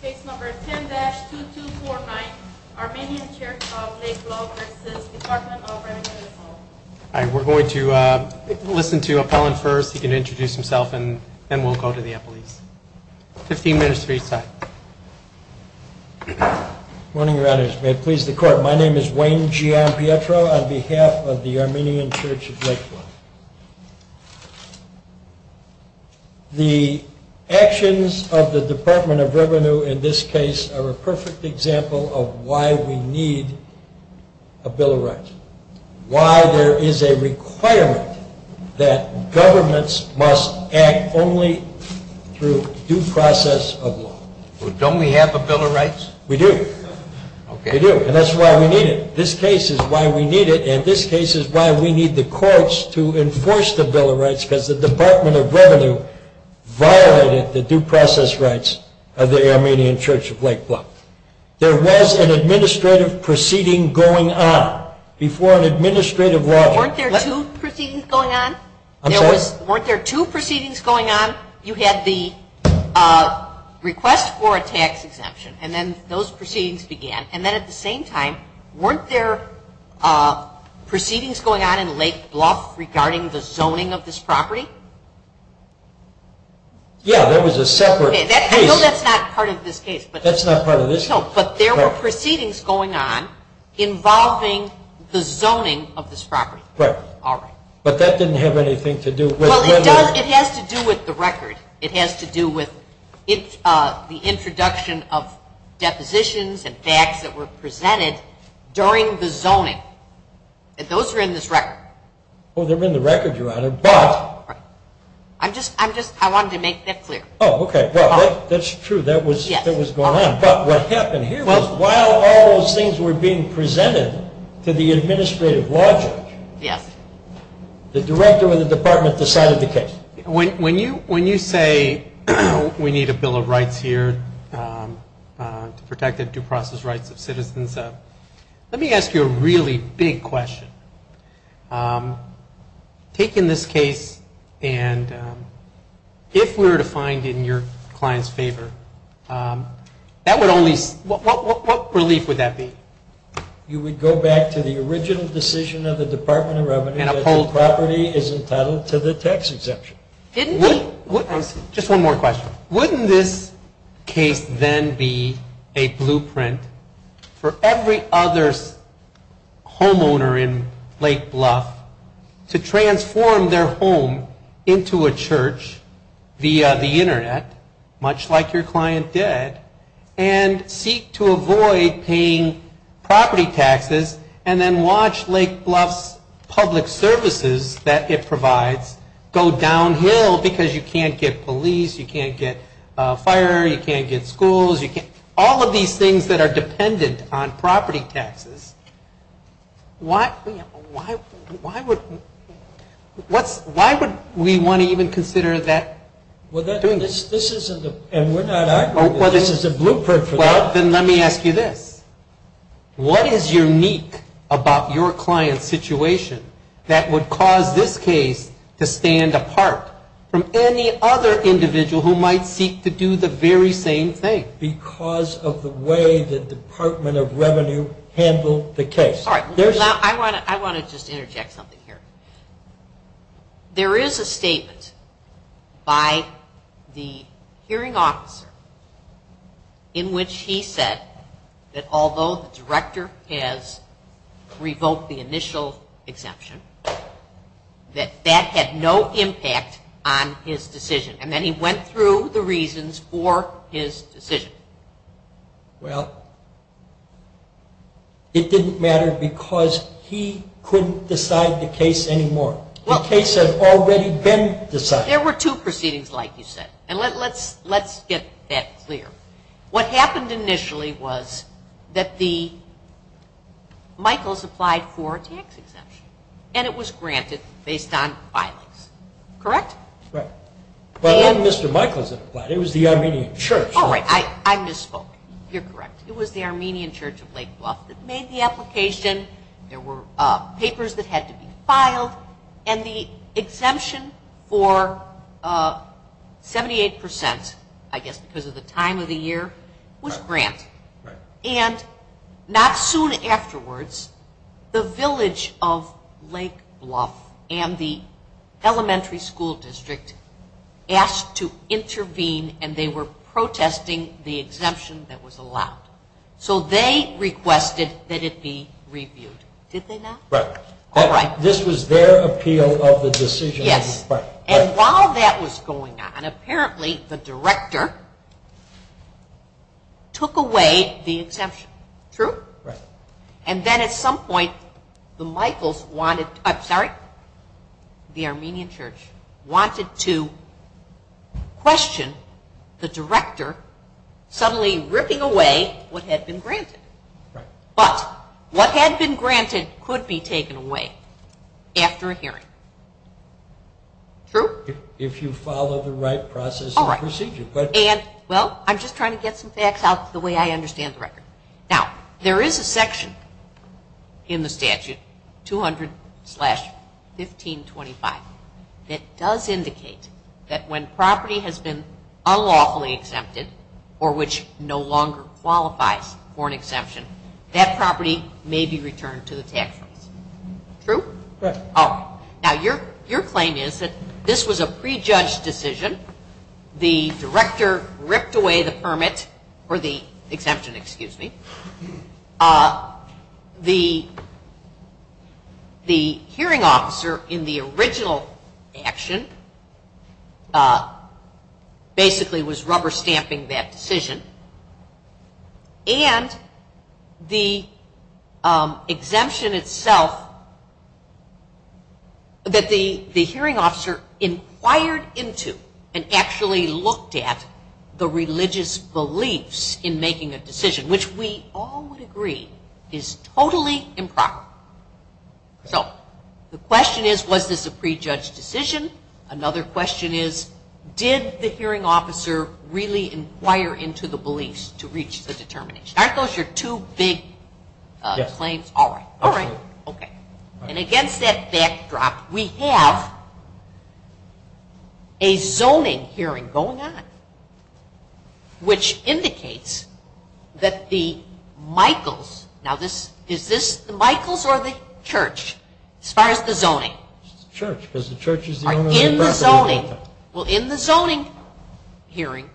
Case number 10-2249, Armenian Church of Lake Bluff v. Dept of Rev. We're going to listen to Apollon first. He can introduce himself and then we'll go to the police. Fifteen minutes for each side. Good morning, Your Honors. May it please the Court, my name is Wayne Gianpietro on behalf of the Armenian Church of Lake Bluff. The actions of the Department of Revenue in this case are a perfect example of why we need a Bill of Rights. Why there is a requirement that governments must act only through due process of law. Don't we have a Bill of Rights? We do. And that's why we need it. This case is why we need it and this case is why we need the courts to enforce the Bill of Rights because the Department of Revenue violated the due process rights of the Armenian Church of Lake Bluff. There was an administrative proceeding going on before an administrative law... Weren't there two proceedings going on? I'm sorry? Those proceedings began and then at the same time weren't there proceedings going on in Lake Bluff regarding the zoning of this property? Yeah, there was a separate case. I know that's not part of this case. That's not part of this case. No, but there were proceedings going on involving the zoning of this property. Right. All right. But that didn't have anything to do with... ...the positions and facts that were presented during the zoning. Those are in this record. Oh, they're in the record, Your Honor, but... Right. I'm just... I wanted to make that clear. Oh, okay. Well, that's true. That was going on. But what happened here was while all those things were being presented to the administrative law judge... ...the director of the department decided the case. When you say we need a bill of rights here to protect the due process rights of citizens... ...let me ask you a really big question. Taking this case and if we were to find it in your client's favor, what relief would that be? You would go back to the original decision of the Department of Revenue... And uphold. ...that the property is entitled to the tax exemption. Didn't we? Just one more question. Wouldn't this case then be a blueprint for every other homeowner in Lake Bluff... ...to transform their home into a church via the internet, much like your client did... ...and seek to avoid paying property taxes and then watch Lake Bluff's public services that it provides... ...go downhill because you can't get police, you can't get fire, you can't get schools. All of these things that are dependent on property taxes. Why would we want to even consider doing this? And we're not arguing that this is a blueprint for that. Well, then let me ask you this. What is unique about your client's situation that would cause this case to stand apart... ...from any other individual who might seek to do the very same thing? Because of the way the Department of Revenue handled the case. I want to just interject something here. There is a statement by the hearing officer in which he said that although the director... ...has revoked the initial exemption, that that had no impact on his decision. And then he went through the reasons for his decision. Well, it didn't matter because he couldn't decide the case anymore. The case had already been decided. There were two proceedings, like you said. And let's get that clear. What happened initially was that the Michaels applied for a tax exemption. And it was granted based on filings. Correct? Right. But then Mr. Michaels had applied. It was the Armenian church. Oh, right. I misspoke. You're correct. It was the Armenian church of Lake Bluff that made the application. There were papers that had to be filed. And the exemption for 78%, I guess because of the time of the year, was granted. And not soon afterwards, the village of Lake Bluff and the elementary school district... ...asked to intervene and they were protesting the exemption that was allowed. So they requested that it be reviewed. Did they not? Right. All right. This was their appeal of the decision. Yes. And while that was going on, apparently the director took away the exemption. True? Right. And then at some point, the Armenian church wanted to question the director suddenly ripping away what had been granted. Right. But what had been granted could be taken away after a hearing. True? If you follow the right process and procedure. All right. Well, I'm just trying to get some facts out the way I understand the record. Now, there is a section in the statute, 200-1525, that does indicate that when property has been unlawfully exempted or which no longer qualifies for an exemption, that property may be returned to the tax office. True? Right. All right. Now, your claim is that this was a prejudged decision. The director ripped away the permit or the exemption, excuse me. The hearing officer in the original action basically was rubber stamping that decision. And the exemption itself that the hearing officer inquired into and actually looked at the religious beliefs in making a decision, which we all would agree is totally improper. So the question is, was this a prejudged decision? Another question is, did the hearing officer really inquire into the beliefs to reach the determination? Aren't those your two big claims? Yes. All right. All right. Okay. And against that backdrop, we have a zoning hearing going on, which indicates that the Michaels. Now, is this the Michaels or the church as far as the zoning? It's the church because the church is the owner of the property. Well, in the zoning hearing,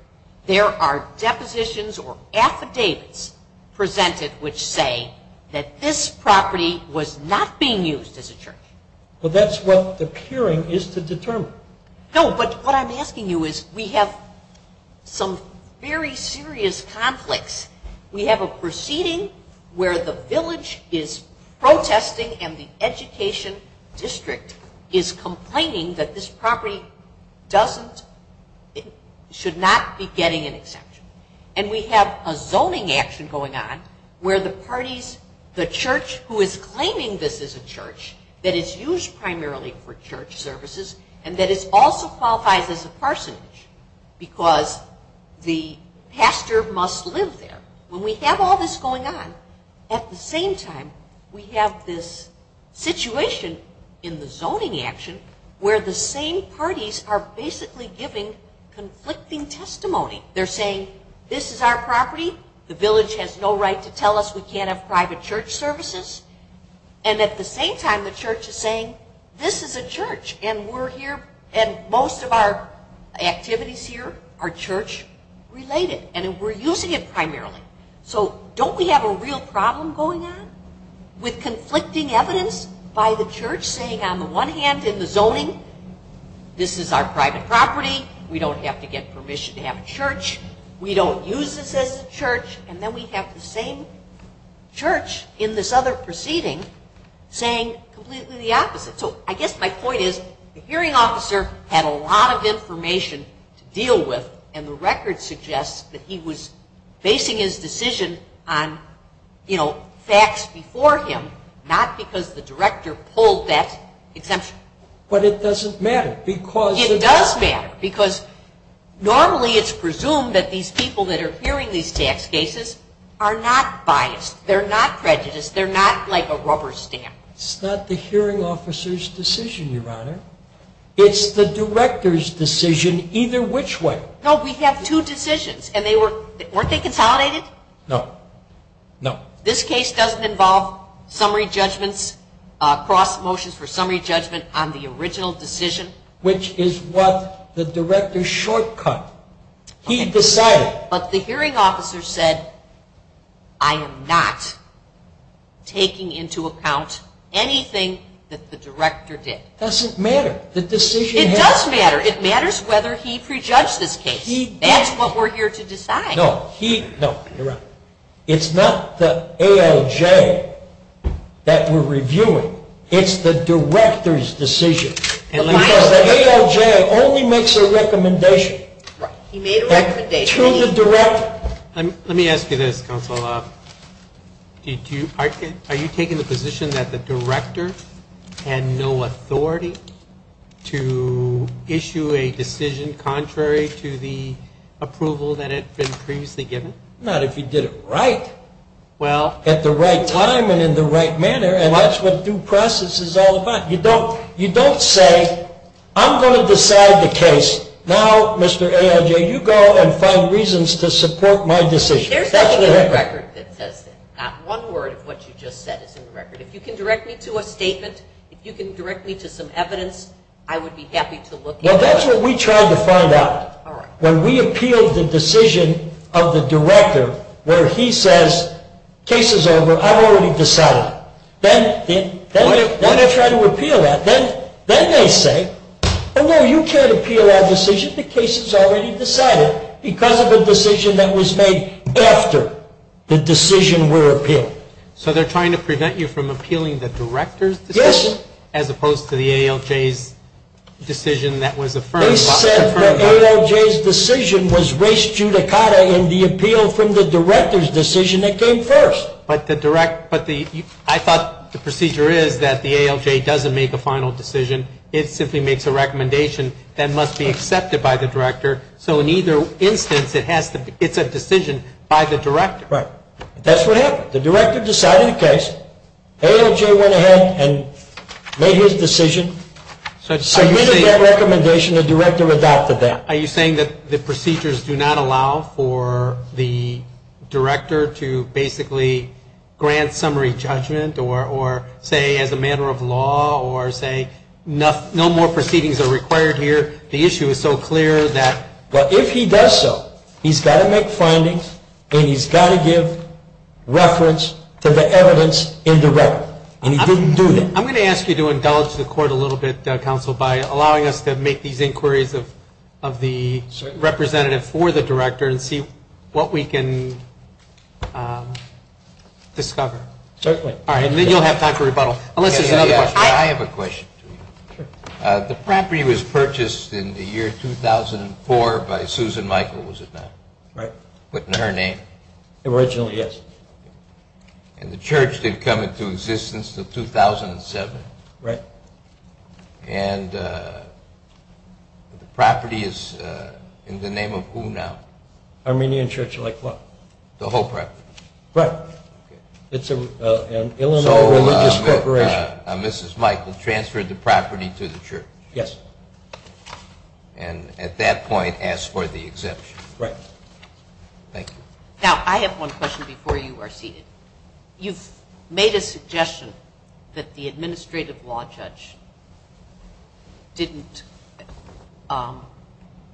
there are depositions or affidavits presented which say that this property was not being used as a church. Well, that's what the peering is to determine. No, but what I'm asking you is we have some very serious conflicts. We have a proceeding where the village is protesting and the education district is complaining that this property doesn't, should not be getting an exemption. And we have a zoning action going on where the parties, the church who is claiming this is a church, that it's used primarily for church services, and that it also qualifies as a parsonage because the pastor must live there. When we have all this going on, at the same time, we have this situation in the zoning action where the same parties are basically giving conflicting testimony. They're saying this is our property. The village has no right to tell us we can't have private church services. And at the same time, the church is saying this is a church and we're here and most of our activities here are church-related and we're using it primarily. So don't we have a real problem going on with conflicting evidence by the church saying on the one hand in the zoning, this is our private property. We don't have to get permission to have a church. We don't use this as a church. And then we have the same church in this other proceeding saying completely the opposite. So I guess my point is the hearing officer had a lot of information to deal with and the record suggests that he was basing his decision on facts before him, not because the director pulled that exemption. But it doesn't matter because... It does matter because normally it's presumed that these people that are hearing these tax cases are not biased. They're not prejudiced. They're not like a rubber stamp. It's not the hearing officer's decision, Your Honor. It's the director's decision either which way. No, we have two decisions, and weren't they consolidated? No, no. This case doesn't involve summary judgments, cross motions for summary judgment on the original decision? Which is what the director's shortcut. He decided. But the hearing officer said, I am not taking into account anything that the director did. It doesn't matter. It does matter. It matters whether he prejudged this case. That's what we're here to decide. No, you're right. It's not the ALJ that we're reviewing. It's the director's decision because the ALJ only makes a recommendation. Right. He made a recommendation. Let me ask you this, counsel. Are you taking the position that the director had no authority to issue a decision contrary to the approval that had been previously given? Not if you did it right at the right time and in the right manner, and that's what due process is all about. You don't say, I'm going to decide the case. Now, Mr. ALJ, you go and find reasons to support my decision. There's nothing in the record that says that. Not one word of what you just said is in the record. If you can direct me to a statement, if you can direct me to some evidence, I would be happy to look into it. Well, that's what we tried to find out. When we appealed the decision of the director where he says, case is over, I've already decided. Then they try to appeal that. Then they say, oh, no, you can't appeal our decision. The case is already decided because of a decision that was made after the decision were appealed. So they're trying to prevent you from appealing the director's decision? Yes. As opposed to the ALJ's decision that was affirmed. They said the ALJ's decision was res judicata in the appeal from the director's decision that came first. But I thought the procedure is that the ALJ doesn't make a final decision. It simply makes a recommendation that must be accepted by the director. So in either instance, it's a decision by the director. Right. That's what happened. The director decided the case. ALJ went ahead and made his decision. So given that recommendation, the director adopted that. Are you saying that the procedures do not allow for the director to basically grant summary judgment or say as a matter of law or say no more proceedings are required here? The issue is so clear that if he does so, he's got to make findings and he's got to give reference to the evidence in the record. And he didn't do that. I'm going to ask you to indulge the court a little bit, Counsel, by allowing us to make these inquiries of the representative for the director and see what we can discover. Certainly. All right. And then you'll have time for rebuttal. I have a question. The property was purchased in the year 2004 by Susan Michael, was it not? Right. Put in her name. Originally, yes. And the church did come into existence in 2007. Right. And the property is in the name of who now? Armenian Church of La Club. The whole property? Right. Okay. It's an Illinois religious corporation. So Mrs. Michael transferred the property to the church? Yes. And at that point asked for the exemption? Right. Thank you. Now, I have one question before you are seated. You've made a suggestion that the administrative law judge didn't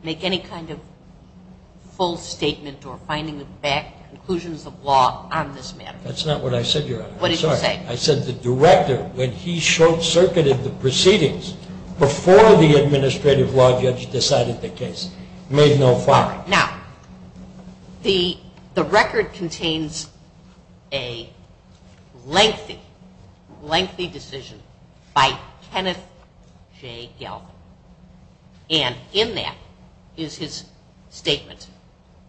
make any kind of full statement or finding back conclusions of law on this matter. That's not what I said, Your Honor. I'm sorry. What did you say? I said the director, when he short-circuited the proceedings before the administrative law judge decided the case, made no file. Now, the record contains a lengthy, lengthy decision by Kenneth J. Galvin. And in that is his statement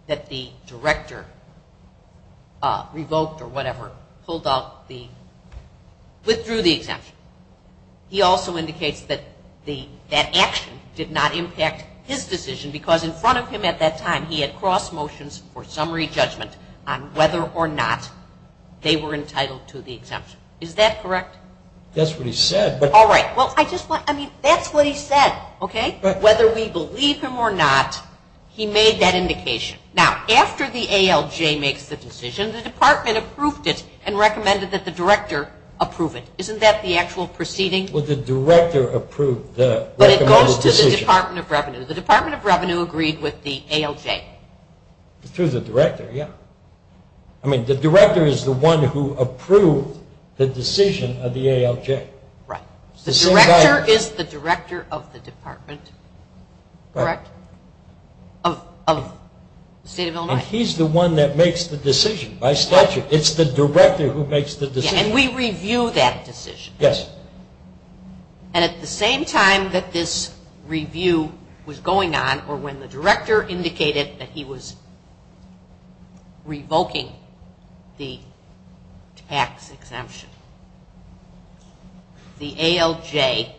that the director revoked or whatever, withdrew the exemption. He also indicates that that action did not impact his decision because in front of him at that time he had crossed motions for summary judgment on whether or not they were entitled to the exemption. Is that correct? That's what he said. All right. Well, that's what he said, okay? Whether we believe him or not, he made that indication. Now, after the ALJ makes the decision, the department approved it and recommended that the director approve it. Isn't that the actual proceeding? Well, the director approved the recommended decision. But it goes to the Department of Revenue. The Department of Revenue agreed with the ALJ. Through the director, yeah. I mean, the director is the one who approved the decision of the ALJ. Right. The director is the director of the department, correct, of the State of Illinois. And he's the one that makes the decision by statute. It's the director who makes the decision. And we review that decision. Yes. And at the same time that this review was going on or when the director indicated that he was revoking the tax exemption, the ALJ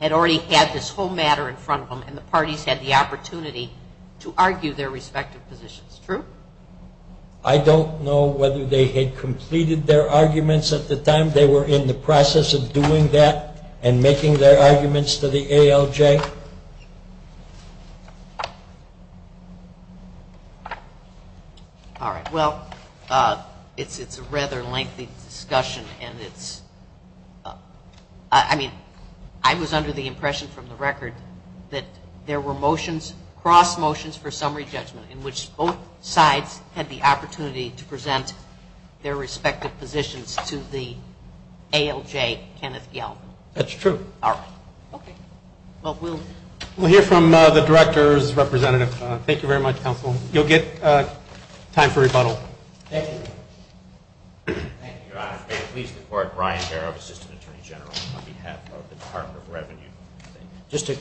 had already had this whole matter in front of them and the parties had the opportunity to argue their respective positions, true? I don't know whether they had completed their arguments at the time. They were in the process of doing that and making their arguments to the ALJ? All right. Well, it's a rather lengthy discussion. I mean, I was under the impression from the record that there were motions, cross motions for summary judgment in which both sides had the opportunity to present their respective positions to the ALJ, Kenneth Gelb. That's true. All right. Okay. Well, we'll hear from the director's representative. Thank you very much, counsel. You'll get time for rebuttal. Thank you. Thank you, Your Honor. May it please the Court, Brian Barrow, Assistant Attorney General, on behalf of the Department of Revenue. Just to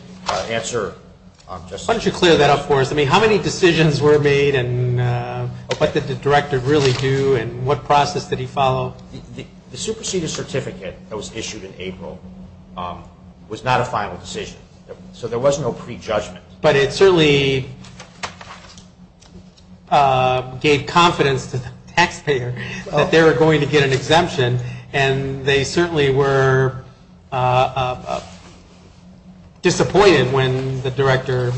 answer just a little bit. Why don't you clear that up for us? I mean, how many decisions were made and what did the director really do and what process did he follow? The superseded certificate that was issued in April was not a final decision. So there was no prejudgment. But it certainly gave confidence to the taxpayer that they were going to get an exemption, and they certainly were disappointed when the director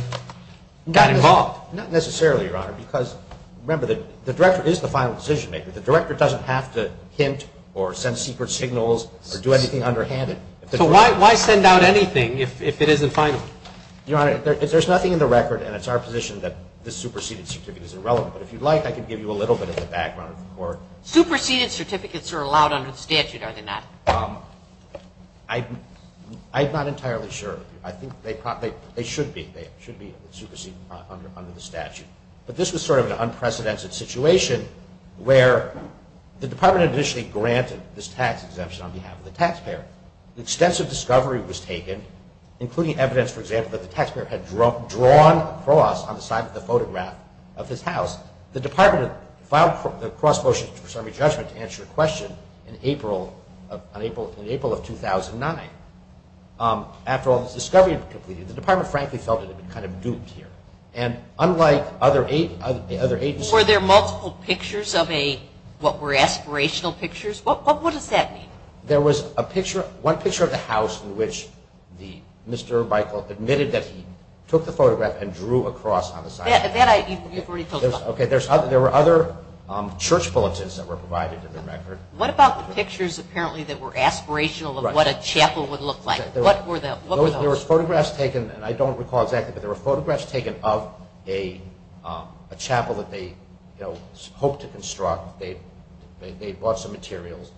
got involved. Not necessarily, Your Honor, because, remember, the director is the final decision maker. The director doesn't have to hint or send secret signals or do anything underhanded. So why send out anything if it isn't final? Your Honor, there's nothing in the record, and it's our position that the superseded certificate is irrelevant. But if you'd like, I can give you a little bit of the background of the Court. Superseded certificates are allowed under the statute, are they not? I'm not entirely sure. I think they should be superseded under the statute. But this was sort of an unprecedented situation where the Department initially granted this tax exemption on behalf of the taxpayer. Extensive discovery was taken, including evidence, for example, that the taxpayer had drawn a cross on the side of the photograph of his house. The Department filed the cross motion to preserve your judgment to answer your question in April of 2009. After all this discovery had been completed, the Department frankly felt it had been kind of duped here. And unlike other agencies... Were there multiple pictures of what were aspirational pictures? What does that mean? There was one picture of the house in which Mr. Michael admitted that he took the photograph and drew a cross on the side. There were other church bulletins that were provided in the record. What about the pictures apparently that were aspirational of what a chapel would look like? What were those? There were photographs taken, and I don't recall exactly, but there were photographs taken of a chapel that they hoped to construct. They bought some materials.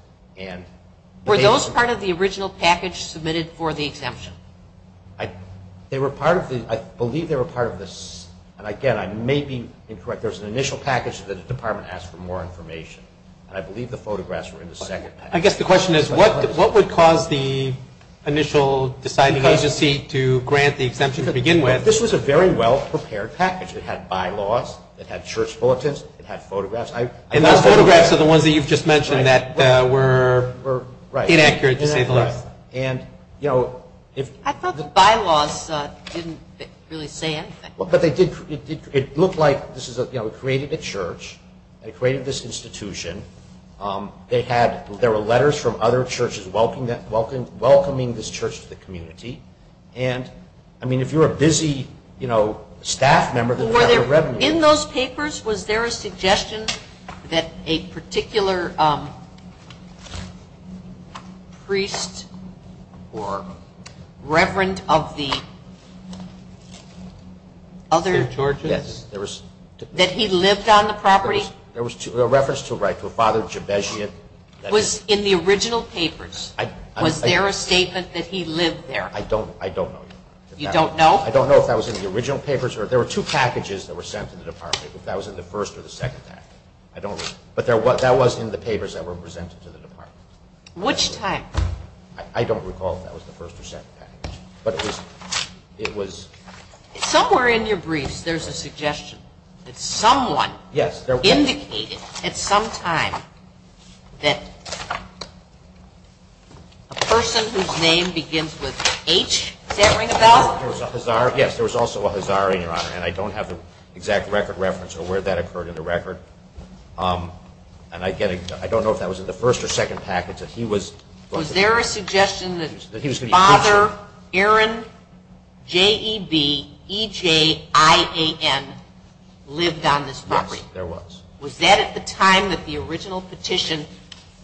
Were those part of the original package submitted for the exemption? They were part of the... I believe they were part of the... And again, I may be incorrect. There was an initial package that the Department asked for more information, and I believe the photographs were in the second package. I guess the question is what would cause the initial deciding agency to grant the exemption to begin with? This was a very well-prepared package. It had bylaws. It had church bulletins. It had photographs. And those photographs are the ones that you've just mentioned that were inaccurate, to say the least. I thought the bylaws didn't really say anything. It looked like it created a church. It created this institution. There were letters from other churches welcoming this church to the community. And, I mean, if you're a busy staff member... Were there, in those papers, was there a suggestion that a particular priest or reverend of the other... Churches? Yes. That he lived on the property? There was a reference to a Father Jebezian. That was in the original papers. Was there a statement that he lived there? I don't know. You don't know? I don't know if that was in the original papers. There were two packages that were sent to the department. If that was in the first or the second package. I don't know. But that was in the papers that were presented to the department. Which time? I don't recall if that was the first or second package. But it was... Somewhere in your briefs, there's a suggestion that someone... Yes. ...indicated at some time that a person whose name begins with H, does that ring a bell? Yes, there was also a Hazari, Your Honor, and I don't have the exact record reference of where that occurred in the record. And I don't know if that was in the first or second package. Was there a suggestion that Father Aaron Jebezian lived on this property? Yes, there was. Was that at the time that the original petition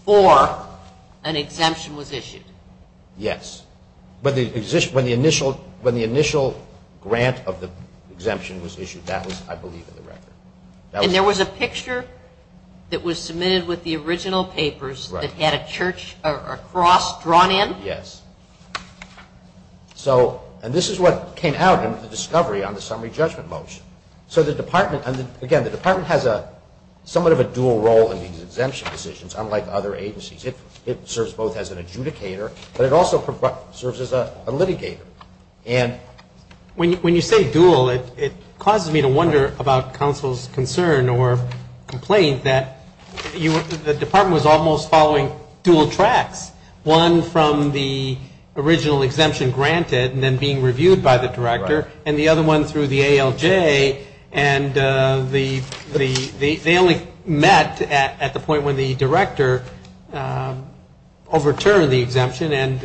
for an exemption was issued? Yes. When the initial grant of the exemption was issued, that was, I believe, in the record. And there was a picture that was submitted with the original papers that had a cross drawn in? Yes. And this is what came out in the discovery on the summary judgment motion. Again, the department has somewhat of a dual role in these exemption decisions, unlike other agencies. It serves both as an adjudicator, but it also serves as a litigator. When you say dual, it causes me to wonder about counsel's concern or complaint that the department was almost following dual tracks, one from the original exemption granted and then being reviewed by the director, and the other one through the ALJ. And they only met at the point when the director overturned the exemption, and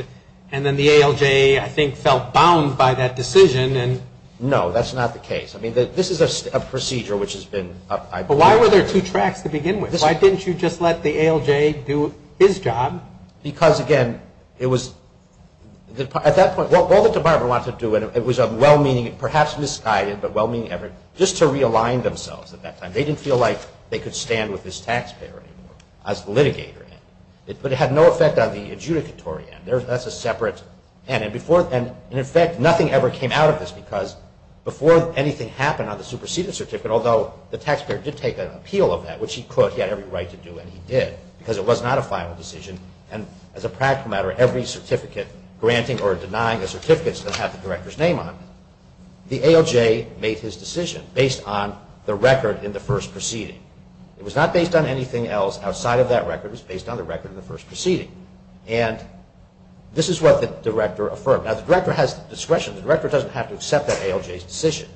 then the ALJ, I think, felt bound by that decision. No, that's not the case. I mean, this is a procedure which has been, I believe. But why were there two tracks to begin with? Why didn't you just let the ALJ do his job? Because, again, it was, at that point, what the department wanted to do, and it was a well-meaning, perhaps misguided, but well-meaning effort, just to realign themselves at that time. They didn't feel like they could stand with this taxpayer anymore as the litigator. But it had no effect on the adjudicatory end. That's a separate end. And, in effect, nothing ever came out of this because before anything happened on the superseded certificate, although the taxpayer did take an appeal of that, which he could, he had every right to do, and he did, because it was not a final decision, and, as a practical matter, every certificate granting or denying a certificate still had the director's name on it. The ALJ made his decision based on the record in the first proceeding. It was not based on anything else outside of that record. It was based on the record in the first proceeding. And this is what the director affirmed. Now, the director has discretion. The director doesn't have to accept that ALJ's decision.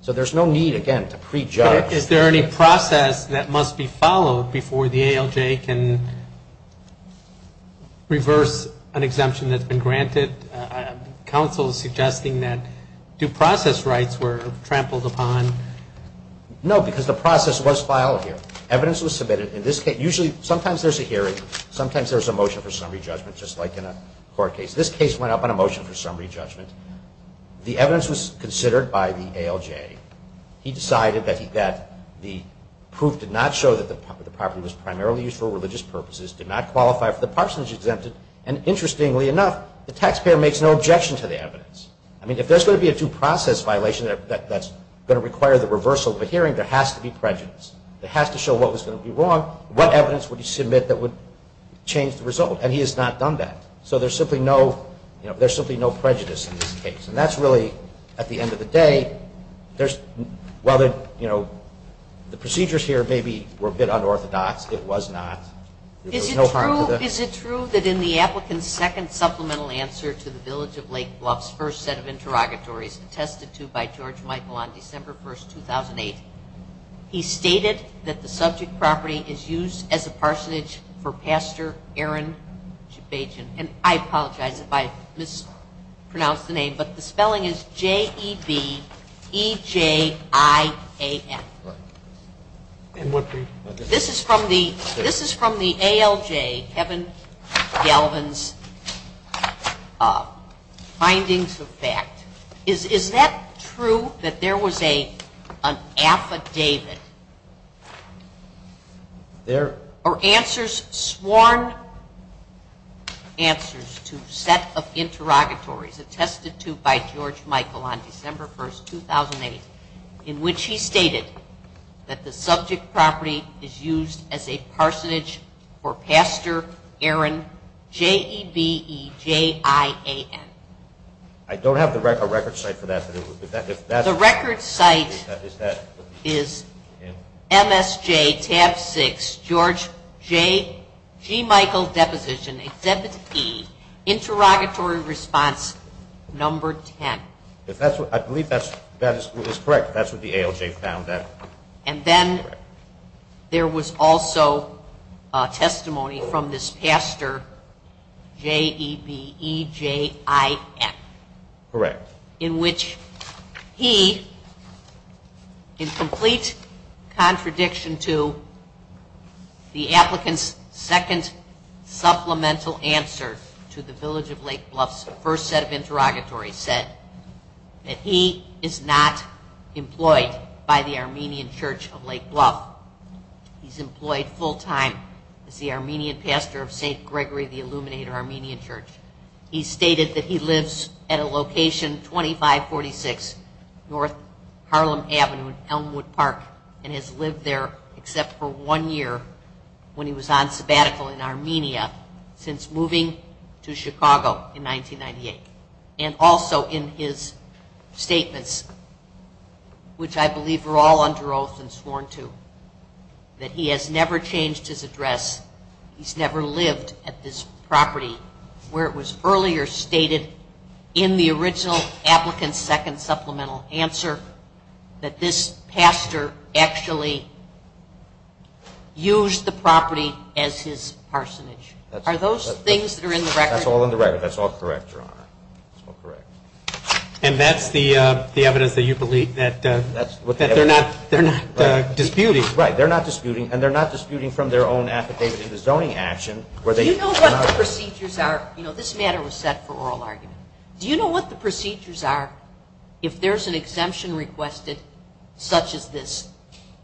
So there's no need, again, to prejudge. Is there any process that must be followed before the ALJ can reverse an exemption that's been granted? Counsel is suggesting that due process rights were trampled upon. No, because the process was filed here. Evidence was submitted. In this case, usually sometimes there's a hearing. Sometimes there's a motion for summary judgment, just like in a court case. This case went up on a motion for summary judgment. The evidence was considered by the ALJ. He decided that the proof did not show that the property was primarily used for religious purposes, did not qualify for the parsonage exempted, and interestingly enough, the taxpayer makes no objection to the evidence. I mean, if there's going to be a due process violation that's going to require the reversal of a hearing, there has to be prejudice. It has to show what was going to be wrong, what evidence would he submit that would change the result. And he has not done that. So there's simply no prejudice in this case. And that's really, at the end of the day, while the procedures here maybe were a bit unorthodox, it was not. Is it true that in the applicant's second supplemental answer to the Village of Lake Bluffs first set of interrogatories attested to by George Michael on December 1, 2008, he stated that the subject property is used as a parsonage for Pastor Aaron Shabajian. And I apologize if I mispronounce the name, but the spelling is J-E-B-E-J-I-A-N. This is from the ALJ, Kevin Galvin's findings of fact. Is that true that there was an affidavit? There are answers, sworn answers, to a set of interrogatories attested to by George Michael on December 1, 2008, in which he stated that the subject property is used as a parsonage for Pastor Aaron J-E-B-E-J-I-A-N. I don't have the record site for that. The record site is MSJ tab 6, George J. G. Michael deposition, exhibit E, interrogatory response number 10. I believe that is correct. That's what the ALJ found. And then there was also testimony from this pastor, J-E-B-E-J-I-N. Correct. In which he, in complete contradiction to the applicant's second supplemental answer to the Village of Lake Bluff's first set of interrogatories, said that he is not employed by the Armenian Church of Lake Bluff. He's employed full time as the Armenian pastor of St. Gregory the Illuminator Armenian Church. He stated that he lives at a location 2546 North Harlem Avenue in Elmwood Park and has lived there except for one year when he was on sabbatical in Armenia since moving to Chicago in 1998. And also in his statements, which I believe were all under oath and sworn to, that he has never changed his address, he's never lived at this property where it was earlier stated in the original applicant's second supplemental answer that this pastor actually used the property as his parsonage. Are those things that are in the record? That's all in the record. That's all correct, Your Honor. And that's the evidence that you believe that they're not disputing. Right. They're not disputing. And they're not disputing from their own affidavit to the zoning action. Do you know what the procedures are? You know, this matter was set for oral argument. Do you know what the procedures are if there's an exemption requested such as this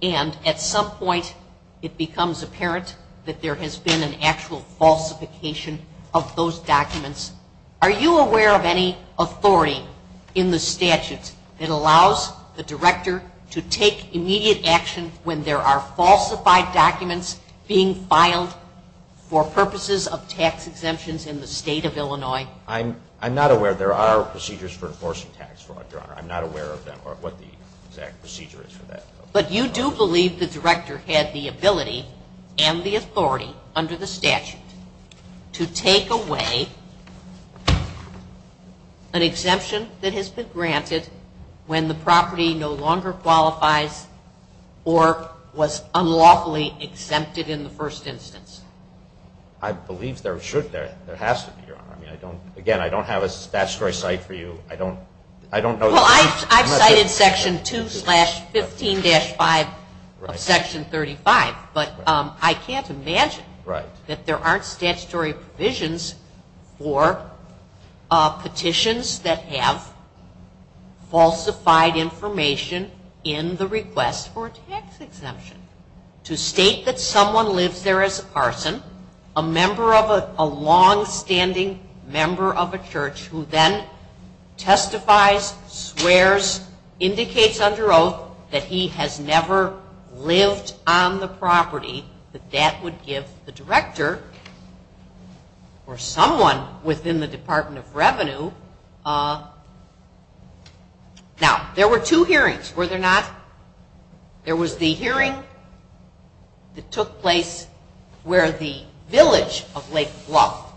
and at some point it becomes apparent that there has been an actual falsification of those documents? Are you aware of any authority in the statute that allows the director to take immediate action when there are falsified documents being filed for purposes of tax exemptions in the state of Illinois? I'm not aware. There are procedures for enforcing tax fraud, Your Honor. I'm not aware of them or what the exact procedure is for that. But you do believe the director had the ability and the authority under the statute to take away an exemption that has been granted when the property no longer qualifies or was unlawfully exempted in the first instance? I believe there should be. There has to be, Your Honor. Again, I don't have a statutory cite for you. I don't know. Well, I've cited Section 2-15-5 of Section 35, but I can't imagine that there aren't statutory provisions for petitions that have falsified information in the request for a tax exemption. To state that someone lives there as a parson, a member of a longstanding member of a church who then testifies, swears, indicates under oath that he has never lived on the property, that that would give the director or someone within the Department of Revenue. Now, there were two hearings, were there not? There was the hearing that took place where the village of Lake Bluff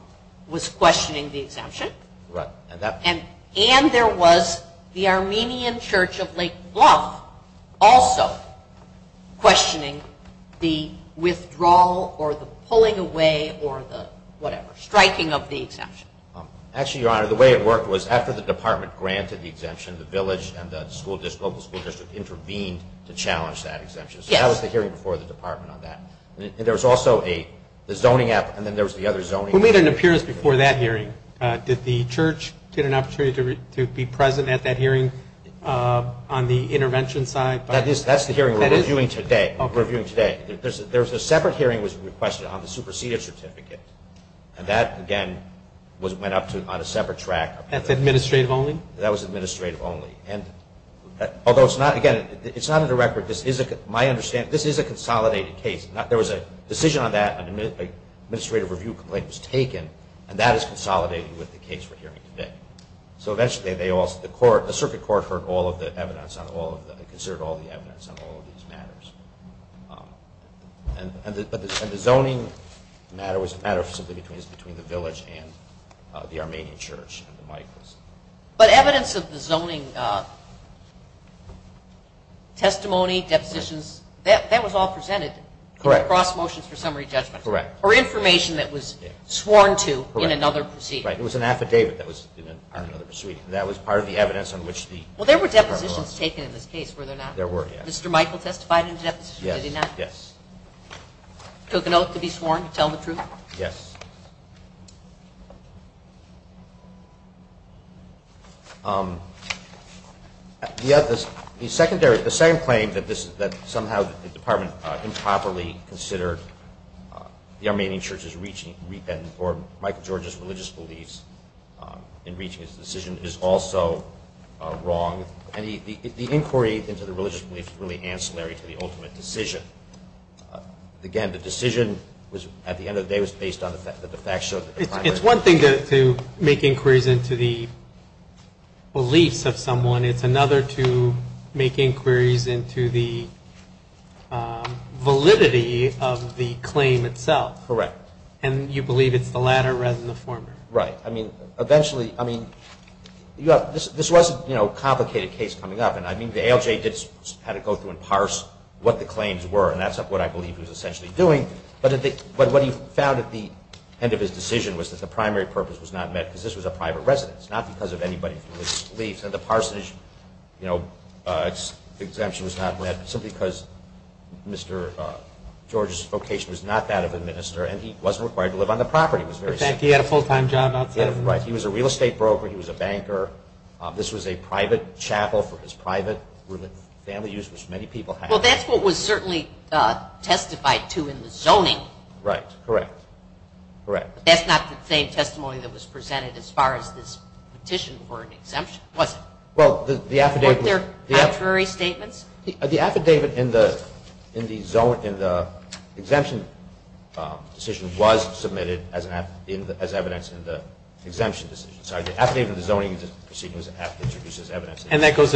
was questioning the exemption. Right. And there was the Armenian church of Lake Bluff also questioning the withdrawal or the pulling away or the whatever, striking of the exemption. Actually, Your Honor, the way it worked was after the department granted the exemption, the village and the local school district intervened to challenge that exemption. Yes. So that was the hearing before the department on that. And there was also the zoning app and then there was the other zoning. Who made an appearance before that hearing? Did the church get an opportunity to be present at that hearing on the intervention side? That's the hearing we're reviewing today. There was a separate hearing that was requested on the superseded certificate, and that, again, went up on a separate track. That's administrative only? That was administrative only. And although it's not, again, it's not in the record. My understanding, this is a consolidated case. There was a decision on that, an administrative review complaint was taken, and that is consolidated with the case we're hearing today. So eventually they all, the circuit court heard all of the evidence on all of the, considered all the evidence on all of these matters. And the zoning matter was a matter simply between the village and the Armenian church. But evidence of the zoning testimony, depositions, that was all presented? Correct. In the cross motions for summary judgment? Correct. Or information that was sworn to in another proceeding? Right. It was an affidavit that was in another proceeding. That was part of the evidence on which the... Well, there were depositions taken in this case, were there not? There were, yes. Mr. Michael testified in a deposition, did he not? Yes. Took a note to be sworn to tell the truth? Yes. The second claim that somehow the department improperly considered the Armenian church's repentance or Michael George's religious beliefs in reaching his decision is also wrong. The inquiry into the religious beliefs is really ancillary to the ultimate decision. Again, the decision at the end of the day was based on the fact that the fact showed... It's one to make inquiries into the beliefs of someone. It's another to make inquiries into the validity of the claim itself. Correct. And you believe it's the latter rather than the former. Right. I mean, eventually... I mean, this was a complicated case coming up. And I mean, the ALJ had to go through and parse what the claims were. And that's what I believe he was essentially doing. But what he found at the end of his decision was that the primary purpose was not met because this was a private residence, not because of anybody's religious beliefs. And the parsonage exemption was not met simply because Mr. George's vocation was not that of a minister and he wasn't required to live on the property. It was very simple. He had a full-time job outside of the ministry. Right. He was a real estate broker. He was a banker. This was a private chapel for his private family use, which many people had. Well, that's what was certainly testified to in the zoning. Right. Correct. Correct. That's not the same testimony that was presented as far as this petition for an exemption, was it? Well, the affidavit... Weren't there contrary statements? The affidavit in the exemption decision was submitted as evidence in the exemption decision. Sorry. The affidavit in the zoning proceedings introduces evidence. And that goes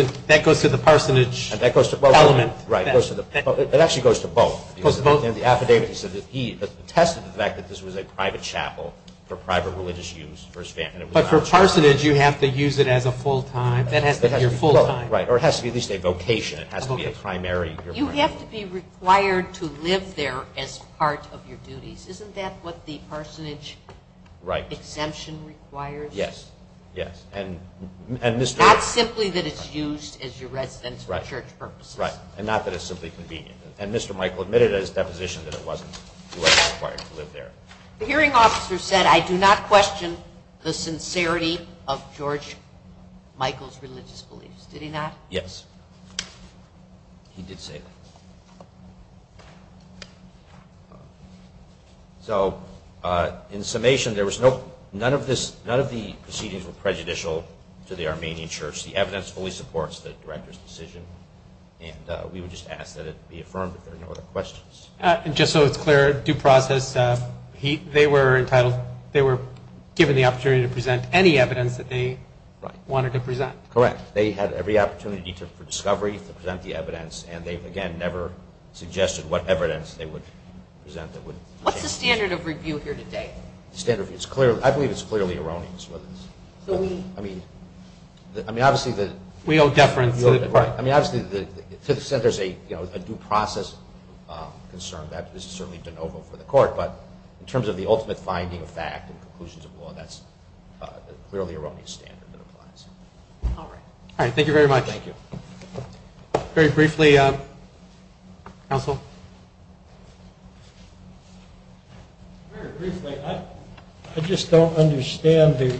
to the parsonage element? Right. It actually goes to both. It goes to both? And the affidavit said that he attested to the fact that this was a private chapel for private religious use for his family. But for parsonage, you have to use it as a full-time. That has to be your full-time. Right. Or it has to be at least a vocation. It has to be a primary. You have to be required to live there as part of your duties. Isn't that what the parsonage exemption requires? Yes. Yes. And Mr.... Not simply that it's used as your residence for church purposes. Right. And not that it's simply convenient. And Mr. Michael admitted at his deposition that it wasn't. He wasn't required to live there. The hearing officer said, I do not question the sincerity of George Michael's religious beliefs. Did he not? Yes. He did say that. So in summation, there was no... None of the proceedings were prejudicial to the Armenian church. The evidence fully supports the director's decision. And we would just ask that it be affirmed that there are no other questions. Just so it's clear, due process, they were entitled... they were given the opportunity to present any evidence that they wanted to present. Correct. They had every opportunity for discovery to present the evidence, and they, again, never suggested what evidence they would present that would... What's the standard of review here today? Standard review. It's clearly... I believe it's clearly erroneous. I mean, obviously the... We owe deference to... Right. I mean, obviously, to the extent there's a due process concern, that is certainly de novo for the court. But in terms of the ultimate finding of fact and conclusions of law, that's clearly an erroneous standard that applies. All right. All right. Thank you very much. Thank you. Very briefly, counsel. Very briefly, I just don't understand the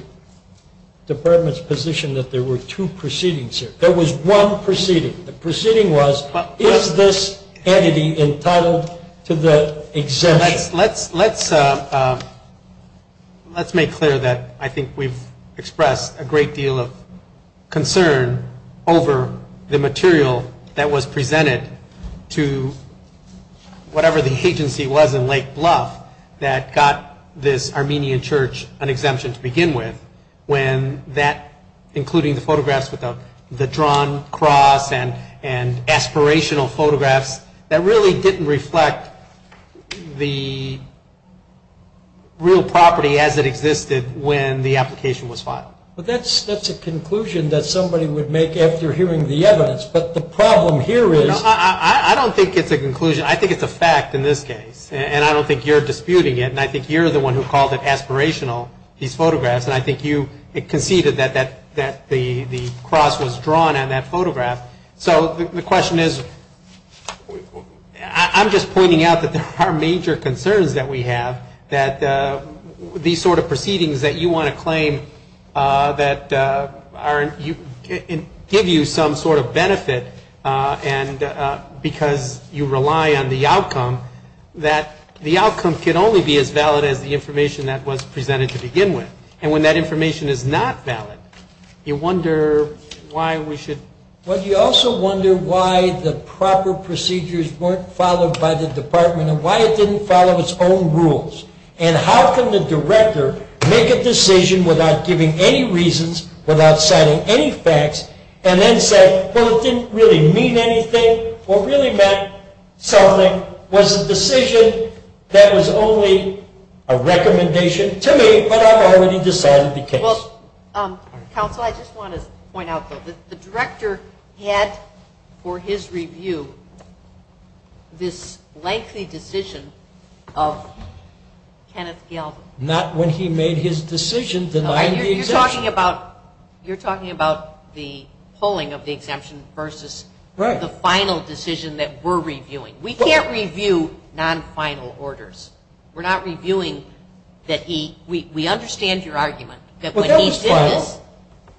department's position that there were two proceedings here. There was one proceeding. The proceeding was, is this entity entitled to the exemption? Let's make clear that I think we've expressed a great deal of concern over the material that was presented to whatever the agency was in Lake Bluff that got this Armenian church an exemption to begin with, including the photographs with the drawn cross and aspirational photographs that really didn't reflect the real property as it existed when the application was filed. But that's a conclusion that somebody would make after hearing the evidence. But the problem here is... I don't think it's a conclusion. I think it's a fact in this case. And I don't think you're disputing it. And I think you're the one who called it aspirational, these photographs. And I think you conceded that the cross was drawn on that photograph. So the question is, I'm just pointing out that there are major concerns that we have, that these sort of proceedings that you want to claim that give you some sort of benefit because you rely on the outcome, that the outcome can only be as valid as the information that was presented to begin with. And when that information is not valid, you wonder why we should... Well, you also wonder why the proper procedures weren't followed by the department and why it didn't follow its own rules. And how can the director make a decision without giving any reasons, without citing any facts, and then say, well, it didn't really mean anything or really meant something, was a decision that was only a recommendation to me, but I've already decided the case. Well, counsel, I just want to point out, though, that the director had for his review this lengthy decision of Kenneth Galvin. You're talking about the polling of the exemption versus the final decision that we're reviewing. We can't review non-final orders. We're not reviewing that he... we understand your argument that when he did this... Well, that was final.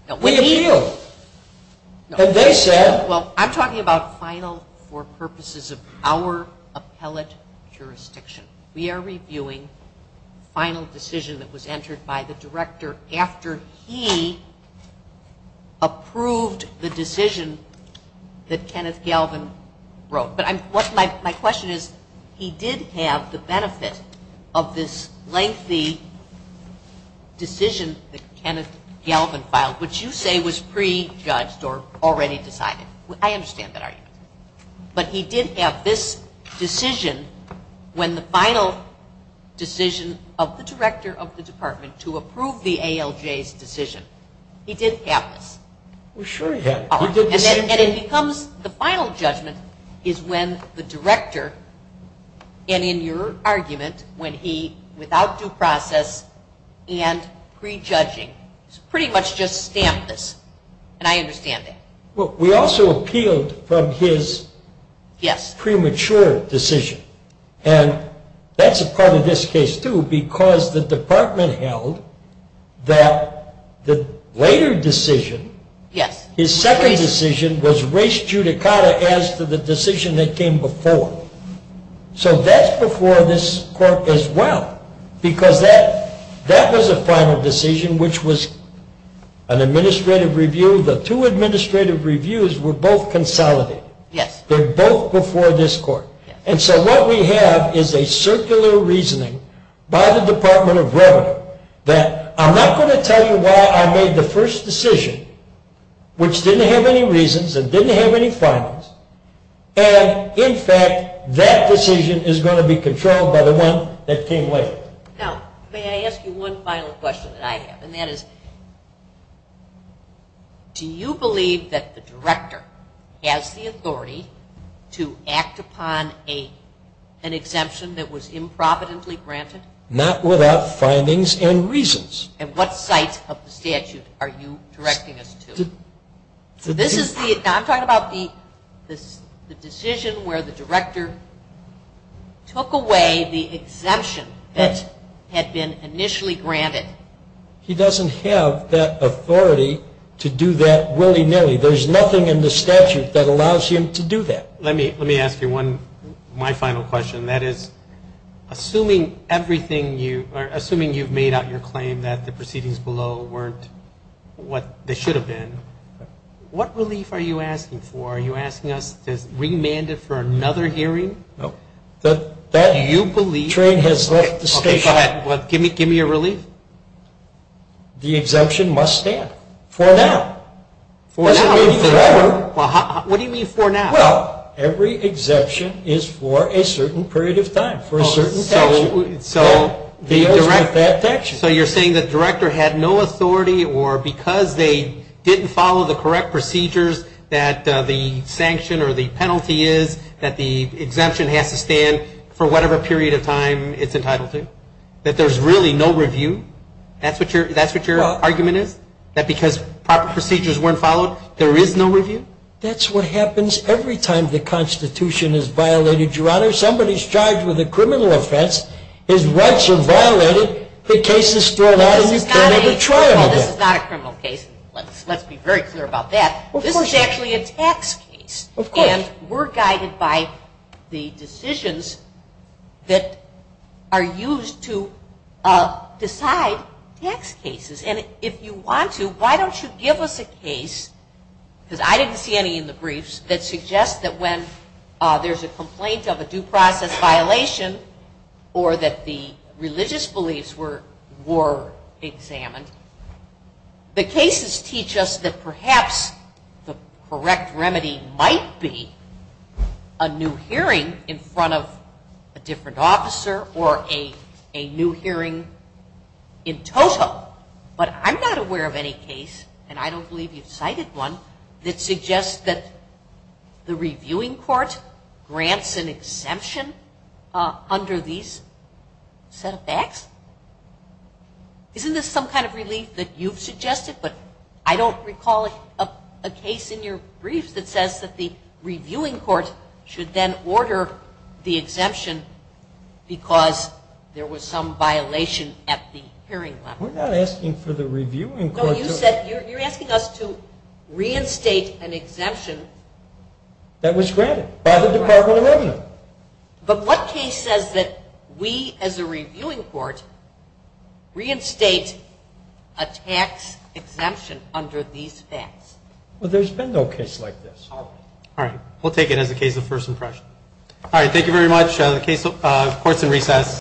No, when he... We appealed. No. And they said... Well, I'm talking about final for purposes of our appellate jurisdiction. We are reviewing final decision that was entered by the director after he approved the decision that Kenneth Galvin wrote. But what my question is, he did have the benefit of this lengthy decision that Kenneth Galvin filed, which you say was prejudged or already decided. I understand that argument. But he did have this decision when the final decision of the director of the department to approve the ALJ's decision, he did have this. Well, sure he had. And it becomes the final judgment is when the director, and in your argument, when he, without due process and prejudging, pretty much just stamped this. And I understand that. Well, we also appealed from his premature decision. And that's a part of this case, too, because the department held that the later decision... Yes. His second decision was res judicata as to the decision that came before. So that's before this court as well, because that was a final decision, which was an administrative review. The two administrative reviews were both consolidated. Yes. They're both before this court. And so what we have is a circular reasoning by the Department of Revenue that I'm not going to tell you why I made the first decision, which didn't have any reasons and didn't have any finals. And, in fact, that decision is going to be controlled by the one that came later. Now, may I ask you one final question that I have? And that is, do you believe that the director has the authority to act upon an exemption that was improvidently granted? Not without findings and reasons. And what sites of the statute are you directing us to? I'm talking about the decision where the director took away the exemption that had been initially granted. He doesn't have that authority to do that willy-nilly. There's nothing in the statute that allows him to do that. Let me ask you my final question. That is, assuming you've made out your claim that the proceedings below weren't what they should have been, what relief are you asking for? Are you asking us to remand it for another hearing? No. Do you believe? That train has left the station. Okay, go ahead. Give me your relief. The exemption must stand for now. For now? It doesn't mean forever. What do you mean for now? Well, every exemption is for a certain period of time, for a certain statute. So you're saying the director had no authority or because they didn't follow the correct procedures that the sanction or the penalty is that the exemption has to stand for whatever period of time it's entitled to? That there's really no review? That's what your argument is? That because proper procedures weren't followed, there is no review? That's what happens every time the Constitution is violated, Your Honor. Somebody's charged with a criminal offense. His rights are violated. The case is thrown out and you can't have a trial. This is not a criminal case. Let's be very clear about that. This is actually a tax case. Of course. And we're guided by the decisions that are used to decide tax cases. And if you want to, why don't you give us a case, because I didn't see any in the briefs, that suggests that when there's a complaint of a due process violation or that the religious beliefs were examined, the cases teach us that perhaps the correct remedy might be a new hearing in front of a different officer or a new hearing in total. But I'm not aware of any case, and I don't believe you've cited one, that suggests that the reviewing court grants an exemption under these set of facts. Isn't this some kind of relief that you've suggested? But I don't recall a case in your briefs that says that the reviewing court should then order the exemption because there was some violation at the hearing level. No, you said you're asking us to reinstate an exemption. That was granted by the Department of Revenue. But what case says that we as a reviewing court reinstate a tax exemption under these facts? Well, there's been no case like this. All right. We'll take it as a case of first impression. Thank you very much. The court's in recess.